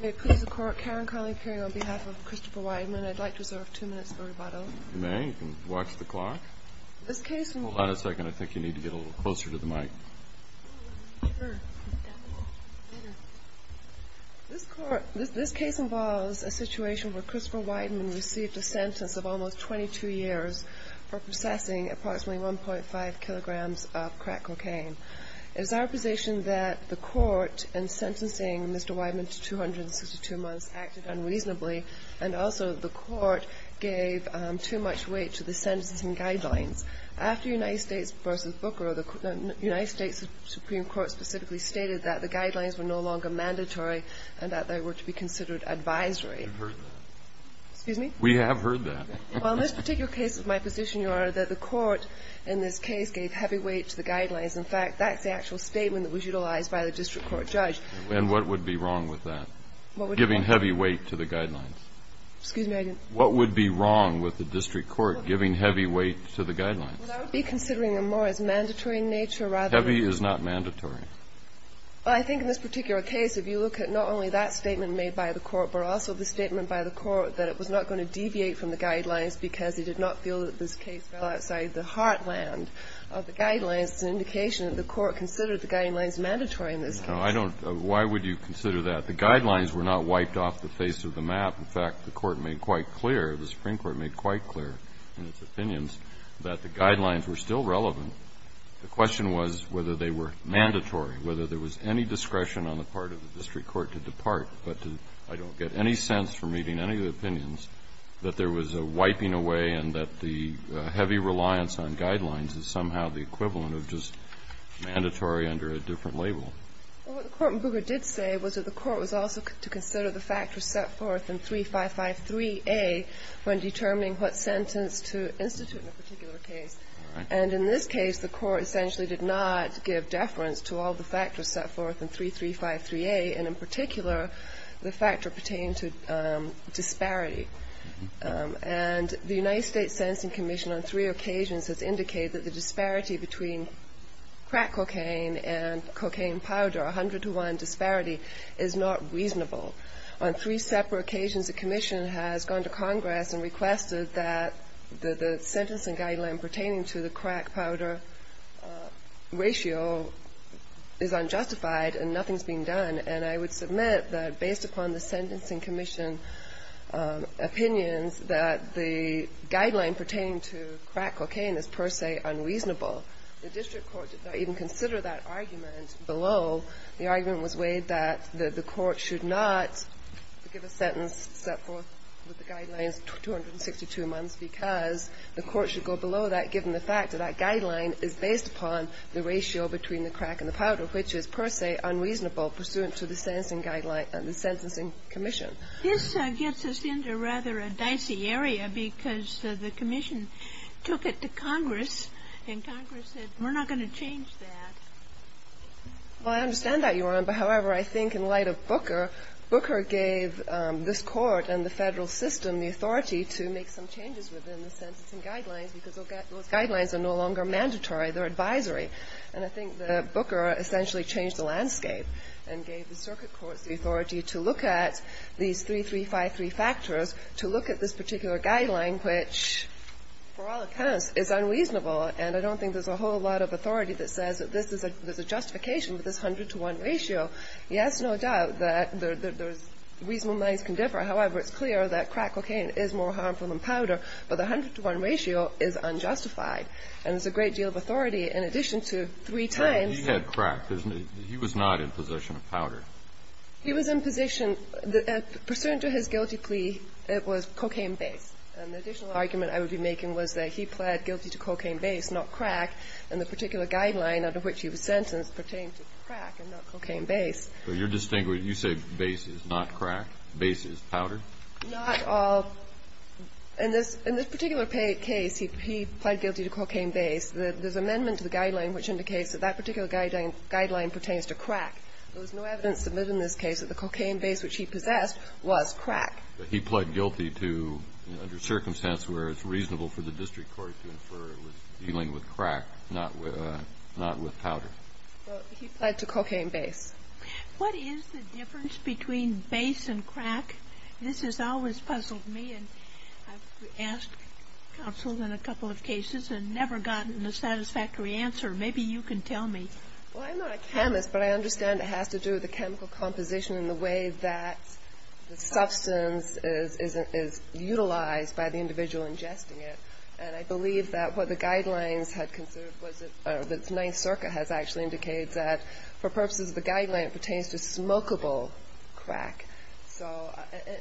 May it please the Court, Karen Connolly appearing on behalf of Christopher Wideman. I'd like to reserve two minutes for rebuttal. You may. You can watch the clock. Hold on a second. I think you need to get a little closer to the mic. This case involves a situation where Christopher Wideman received a sentence of almost 22 years for possessing approximately 1.5 kilograms of crack cocaine. It is our position that the Court, in sentencing Mr. Wideman to 262 months, acted unreasonably, and also the Court gave too much weight to the sentencing guidelines. After United States v. Booker, the United States Supreme Court specifically stated that the guidelines were no longer mandatory and that they were to be considered advisory. We've heard that. Excuse me? We have heard that. Well, in this particular case, it's my position, Your Honor, that the Court in this case gave heavy weight to the guidelines. In fact, that's the actual statement that was utilized by the district court judge. And what would be wrong with that? What would be wrong? Giving heavy weight to the guidelines. Excuse me? What would be wrong with the district court giving heavy weight to the guidelines? Well, that would be considering them more as mandatory in nature, rather than the... Heavy is not mandatory. Well, I think in this particular case, if you look at not only that statement made by the Court, but also the statement by the Court that it was not going to deviate from the guidelines because it did not feel that this case fell outside the heartland of the guidelines. It's an indication that the Court considered the guidelines mandatory in this case. No, I don't. Why would you consider that? The guidelines were not wiped off the face of the map. In fact, the Court made quite clear, the Supreme Court made quite clear in its opinions that the guidelines were still relevant. The question was whether they were mandatory, whether there was any discretion on the part of the district court to depart, but I don't get any sense from reading any of the opinions that there was a wiping away and that the heavy reliance on guidelines is somehow the equivalent of just mandatory under a different label. Well, what the Court in Bouguer did say was that the Court was also to consider the factors set forth in 3553A when determining what sentence to institute in a particular case. And in this case, the Court essentially did not give deference to all the factors set forth in 3353A, and in particular, the factor pertaining to disparity. And the United States Sentencing Commission on three occasions has indicated that the disparity between crack cocaine and cocaine powder, 100 to 1 disparity, is not reasonable. On three separate occasions, the Commission has gone to Congress and requested that the sentencing guideline pertaining to the crack powder ratio is unjustified and nothing's being done, and I would submit that based upon the Sentencing Commission opinions that the guideline pertaining to crack cocaine is per se unreasonable. The district court did not even consider that argument below. The argument was weighed that the Court should not give a sentence set forth with the guidelines 262 months because the Court should go below that given the fact that that guideline is based upon the ratio between the crack and the powder, which is per se unreasonable pursuant to the sentencing guideline and the Sentencing Commission. This gets us into rather a dicey area because the Commission took it to Congress and Congress said we're not going to change that. Well, I understand that, Your Honor, but however, I think in light of Booker, Booker gave this Court and the Federal system the authority to make some changes within the sentencing guidelines because those guidelines are no longer mandatory. They're advisory. And I think that Booker essentially changed the landscape and gave the circuit courts the authority to look at these 3353 factors, to look at this particular guideline, which, for all accounts, is unreasonable. And I don't think there's a whole lot of authority that says that this is a justification with this 100-to-1 ratio. Yes, no doubt that reasonable minds can differ. However, it's clear that crack cocaine is more harmful than powder, but the 100-to-1 ratio is unjustified. And there's a great deal of authority in addition to three times. He had crack, didn't he? He was not in possession of powder. He was in possession. Pursuant to his guilty plea, it was cocaine-based. And the additional argument I would be making was that he pled guilty to cocaine-based, not crack, and the particular guideline under which he was sentenced pertained to crack and not cocaine-based. So you're distinguishing. You say base is not crack. Base is powder? Not all. In this particular case, he pled guilty to cocaine-based. There's an amendment to the guideline which indicates that that particular guideline pertains to crack. There was no evidence submitted in this case that the cocaine-based which he possessed was crack. But he pled guilty to, under circumstance where it's reasonable for the district court to infer it was dealing with crack, not with powder. He pled to cocaine-based. What is the difference between base and crack? This has always puzzled me. And I've asked counsels in a couple of cases and never gotten a satisfactory answer. Maybe you can tell me. Well, I'm not a chemist, but I understand it has to do with the chemical composition and the way that the substance is utilized by the individual ingesting it. And I believe that what the guidelines had considered was that the Ninth Circuit has actually indicated that for purposes of the guideline, it pertains to smokable crack. So,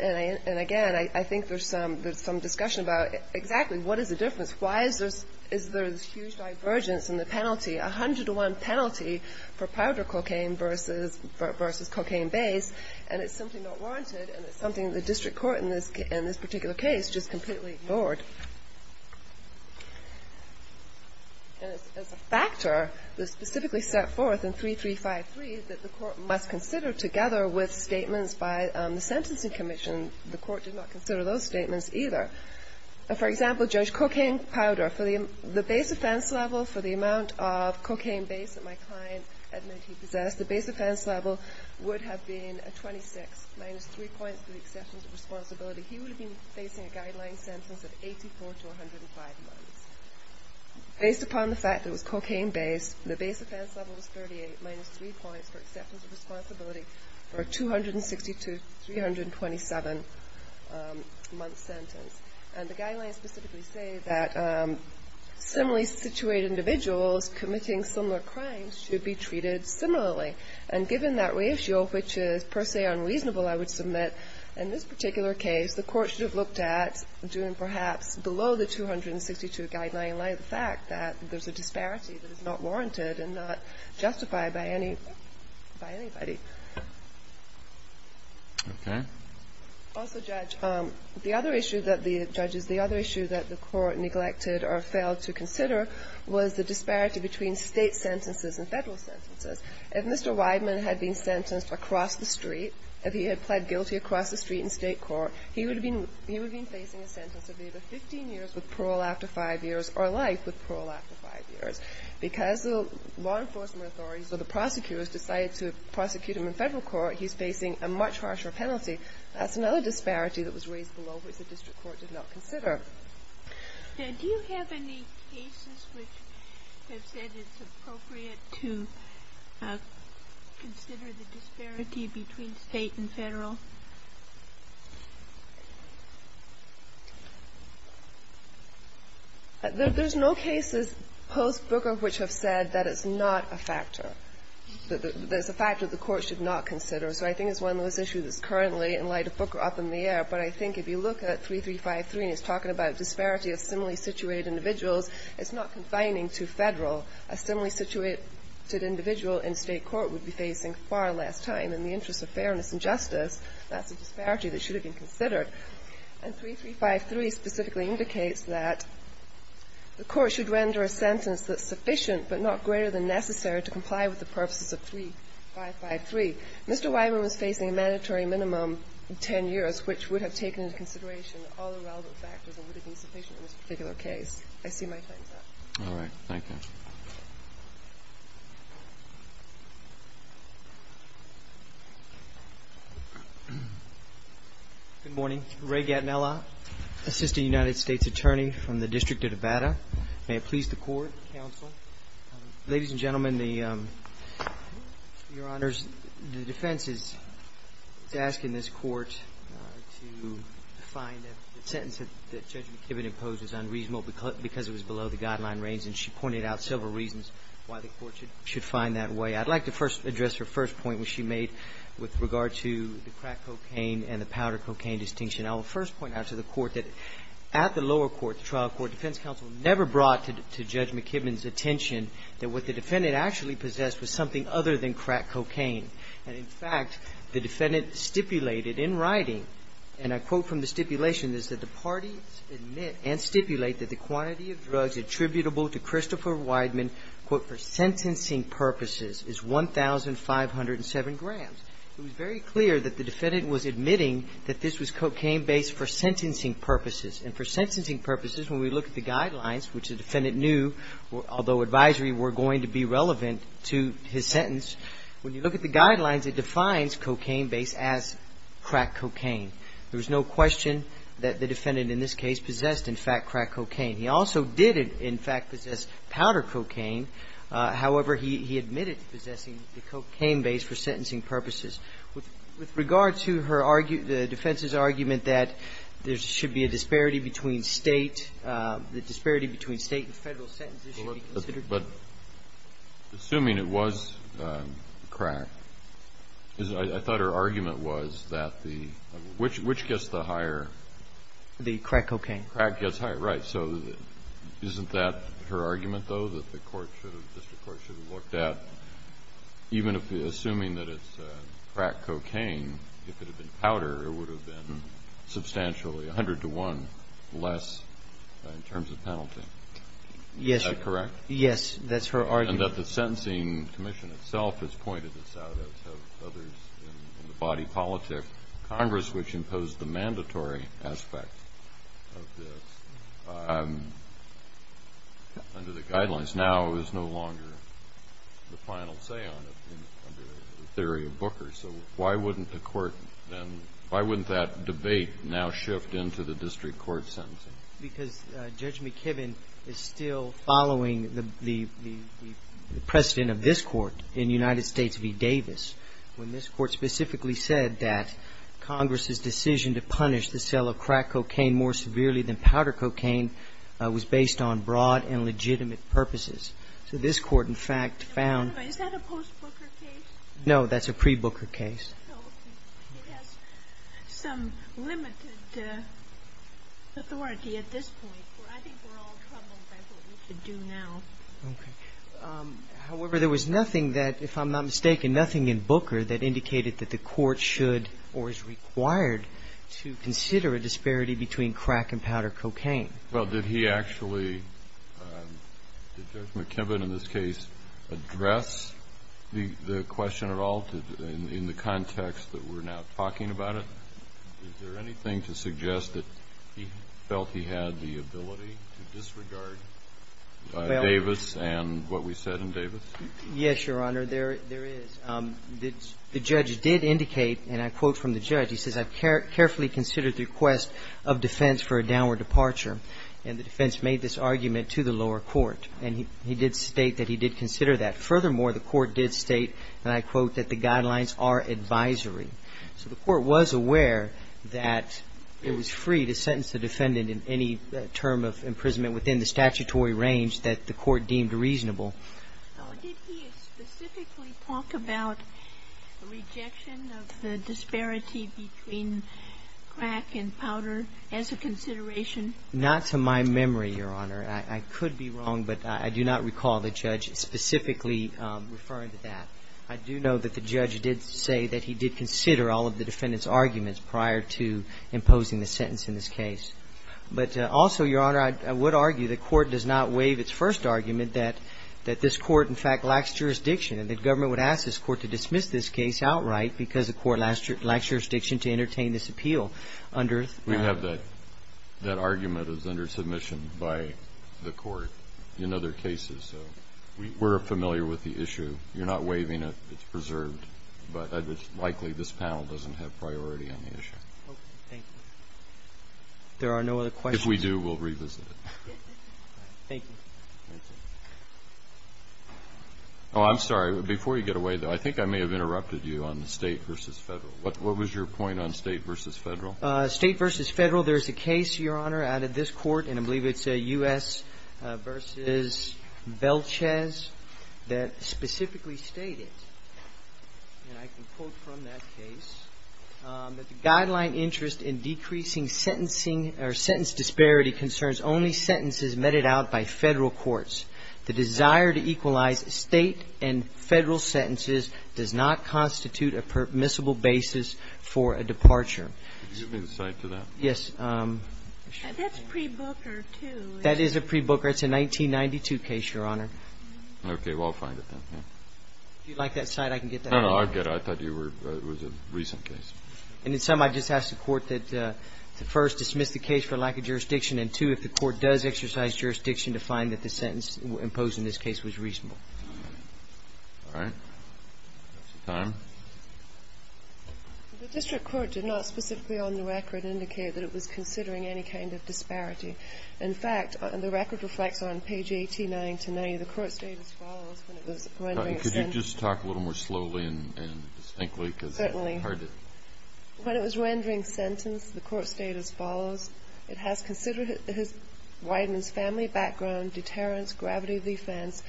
and again, I think there's some discussion about exactly what is the difference? Why is there this huge divergence in the penalty, 101 penalty for powder cocaine versus cocaine-based? And it's simply not warranted. And it's something that the district court in this particular case just said. And as a factor that's specifically set forth in 3353 that the court must consider together with statements by the Sentencing Commission, the court did not consider those statements either. For example, Judge Cocaine-Powder, for the base offense level, for the amount of cocaine base that my client admitted he possessed, the base offense level would have been a 26 minus 3 points for the exceptions of responsibility. He would have been facing a guideline sentence of 84 to 105 months. Based upon the fact that it was cocaine-based, the base offense level was 38 minus 3 points for exceptions of responsibility for a 260 to 327-month sentence. And the guidelines specifically say that similarly situated individuals committing similar crimes should be treated similarly. And given that ratio, which is per se unreasonable, I would submit in this particular case the court should have looked at doing perhaps below the 262 guideline in light of the fact that there's a disparity that is not warranted and not justified by any by anybody. Okay. Also, Judge, the other issue that the judges, the other issue that the court neglected or failed to consider was the disparity between State sentences and Federal sentences. If Mr. Wideman had been sentenced across the street, if he had pled guilty across the street in State court, he would have been facing a sentence of either 15 years with parole after five years or life with parole after five years. Because the law enforcement authorities or the prosecutors decided to prosecute him in Federal court, he's facing a much harsher penalty. That's another disparity that was raised below which the district court did not consider. Do you have any cases which have said it's appropriate to consider the disparity between State and Federal? There's no cases post Booker which have said that it's not a factor, that it's a factor the court should not consider. So I think it's one of those issues that's currently in light of Booker up in the air. But I think if you look at 3353 and it's talking about disparity of similarly situated individuals, it's not confining to Federal. A similarly situated individual in State court would be facing far less time in the interest of fairness and justice. That's a disparity that should have been considered. And 3353 specifically indicates that the court should render a sentence that's sufficient but not greater than necessary to comply with the purposes of 3553. Mr. Weimer was facing a mandatory minimum of 10 years which would have taken into consideration all the relevant factors and would have been sufficient in this particular case. I see my time's up. All right. Thank you. Good morning. Ray Gatinella, Assistant United States Attorney from the District of Nevada. May it please the Court, counsel. Ladies and gentlemen, Your Honors, the defense is asking this Court to find a sentence that Judge McKibben imposed as unreasonable because it was below the guideline range. And she pointed out several reasons why the Court should find that way. I'd like to first address her first point which she made with regard to the crack cocaine and the powder cocaine distinction. I will first point out to the Court that at the lower court, the trial court, defense counsel never brought to Judge McKibben's attention that what the defendant actually possessed was something other than crack cocaine. And in fact, the defendant stipulated in writing, and I quote from the stipulation, is that the parties admit and stipulate that the quantity of drugs attributable to Christopher Weidman, quote, for sentencing purposes is 1,507 grams. It was very clear that the defendant was admitting that this was cocaine-based for sentencing purposes. And for sentencing purposes, when we look at the guidelines, which the defendant knew, although advisory, were going to be relevant to his sentence, when you look at the guidelines, it defines cocaine-based as crack cocaine. There was no question that the defendant in this case possessed, in fact, crack cocaine. He also didn't, in fact, possess powder cocaine. However, he admitted possessing the cocaine-based for sentencing purposes. With regard to her argument, the defense's argument that there should be a disparity between State, the disparity between State and Federal sentences should be considered the same. But assuming it was crack, I thought her argument was that the – which gets the higher? The crack cocaine. The crack gets higher. Right. Assuming that it's crack cocaine, if it had been powder, it would have been substantially 100 to 1 less in terms of penalty. Yes. Is that correct? Yes. That's her argument. And that the sentencing commission itself has pointed this out, as have others in the body politic. Congress, which imposed the mandatory aspect of this under the guidelines, now is no longer the final say on it under the theory of Booker. So why wouldn't the Court then – why wouldn't that debate now shift into the district court sentencing? Because Judge McKibben is still following the precedent of this Court in United States v. Davis, when this Court specifically said that Congress's decision to punish the sale of crack cocaine more severely than powder cocaine was based on broad and legitimate purposes. So this Court, in fact, found – Is that a post-Booker case? No, that's a pre-Booker case. Okay. It has some limited authority at this point. I think we're all troubled by what we should do now. Okay. However, there was nothing that, if I'm not mistaken, nothing in Booker that indicated that the Court should or is required to consider a disparity between crack and powder cocaine. Well, did he actually – did Judge McKibben in this case address the question at all in the context that we're now talking about it? Is there anything to suggest that he felt he had the ability to disregard Davis and what we said in Davis? Yes, Your Honor, there is. The judge did indicate, and I quote from the judge, he says, I've carefully considered the request of defense for a downward departure. And the defense made this argument to the lower court. And he did state that he did consider that. Furthermore, the Court did state, and I quote, that the guidelines are advisory. So the Court was aware that it was free to sentence the defendant in any term of imprisonment within the statutory range that the Court deemed reasonable. So did he specifically talk about rejection of the disparity between crack and powder as a consideration? Not to my memory, Your Honor. I could be wrong, but I do not recall the judge specifically referring to that. I do know that the judge did say that he did consider all of the defendant's arguments prior to imposing the sentence in this case. But also, Your Honor, I would argue the Court does not waive its first argument that this Court, in fact, lacks jurisdiction. And the government would ask this Court to dismiss this case outright because the Court lacks jurisdiction to entertain this appeal under the statute. We have that. That argument is under submission by the Court in other cases. So we're familiar with the issue. You're not waiving it. It's preserved. But it's likely this panel doesn't have priority on the issue. Thank you. There are no other questions? If we do, we'll revisit it. Thank you. Oh, I'm sorry. Before you get away, though, I think I may have interrupted you on the State versus Federal. What was your point on State versus Federal? State versus Federal. There's a case, Your Honor, out of this Court, and I believe it's U.S. versus Belchez, that specifically stated, and I can quote from that case, that the guideline interest in decreasing sentencing or sentence disparity concerns only sentences submitted out by Federal courts. The desire to equalize State and Federal sentences does not constitute a permissible basis for a departure. Could you give me the cite to that? Yes. That's pre-Booker, too. That is a pre-Booker. It's a 1992 case, Your Honor. Okay. Well, I'll find it, then. If you'd like that cite, I can get that. No, no. I'll get it. I thought it was a recent case. And in sum, I'd just ask the Court that, first, dismiss the case for lack of jurisdiction, and, two, if the Court does exercise jurisdiction, to find that the sentence imposed in this case was reasonable. All right. That's the time. The district court did not specifically on the record indicate that it was considering any kind of disparity. In fact, the record reflects on page 89 to 90, the Court's data follows when it was rendering sentence. Could you just talk a little more slowly and distinctly? Certainly. When it was rendering sentence, the Court's data follows. It has considered his family background, deterrence, gravity of defense,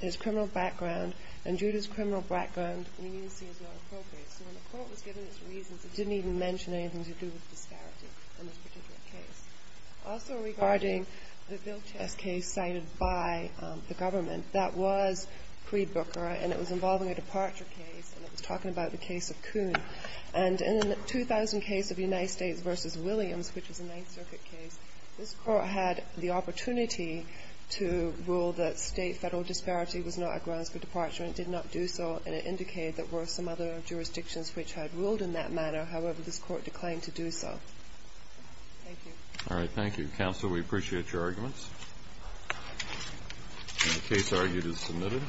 his criminal background, and, due to his criminal background, leniency is not appropriate. So when the Court was given its reasons, it didn't even mention anything to do with disparity in this particular case. Also, regarding the Bill Chess case cited by the government, that was pre-Booker, and it was involving a departure case, and it was talking about the case of Coon. And in the 2000 case of United States v. Williams, which is a Ninth Circuit case, this Court had the opportunity to rule that State-Federal disparity was not a grounds for departure, and it did not do so, and it indicated there were some other jurisdictions which had ruled in that manner. However, this Court declined to do so. Thank you. All right. Thank you. Counsel, we appreciate your arguments. And the case argued is submitted.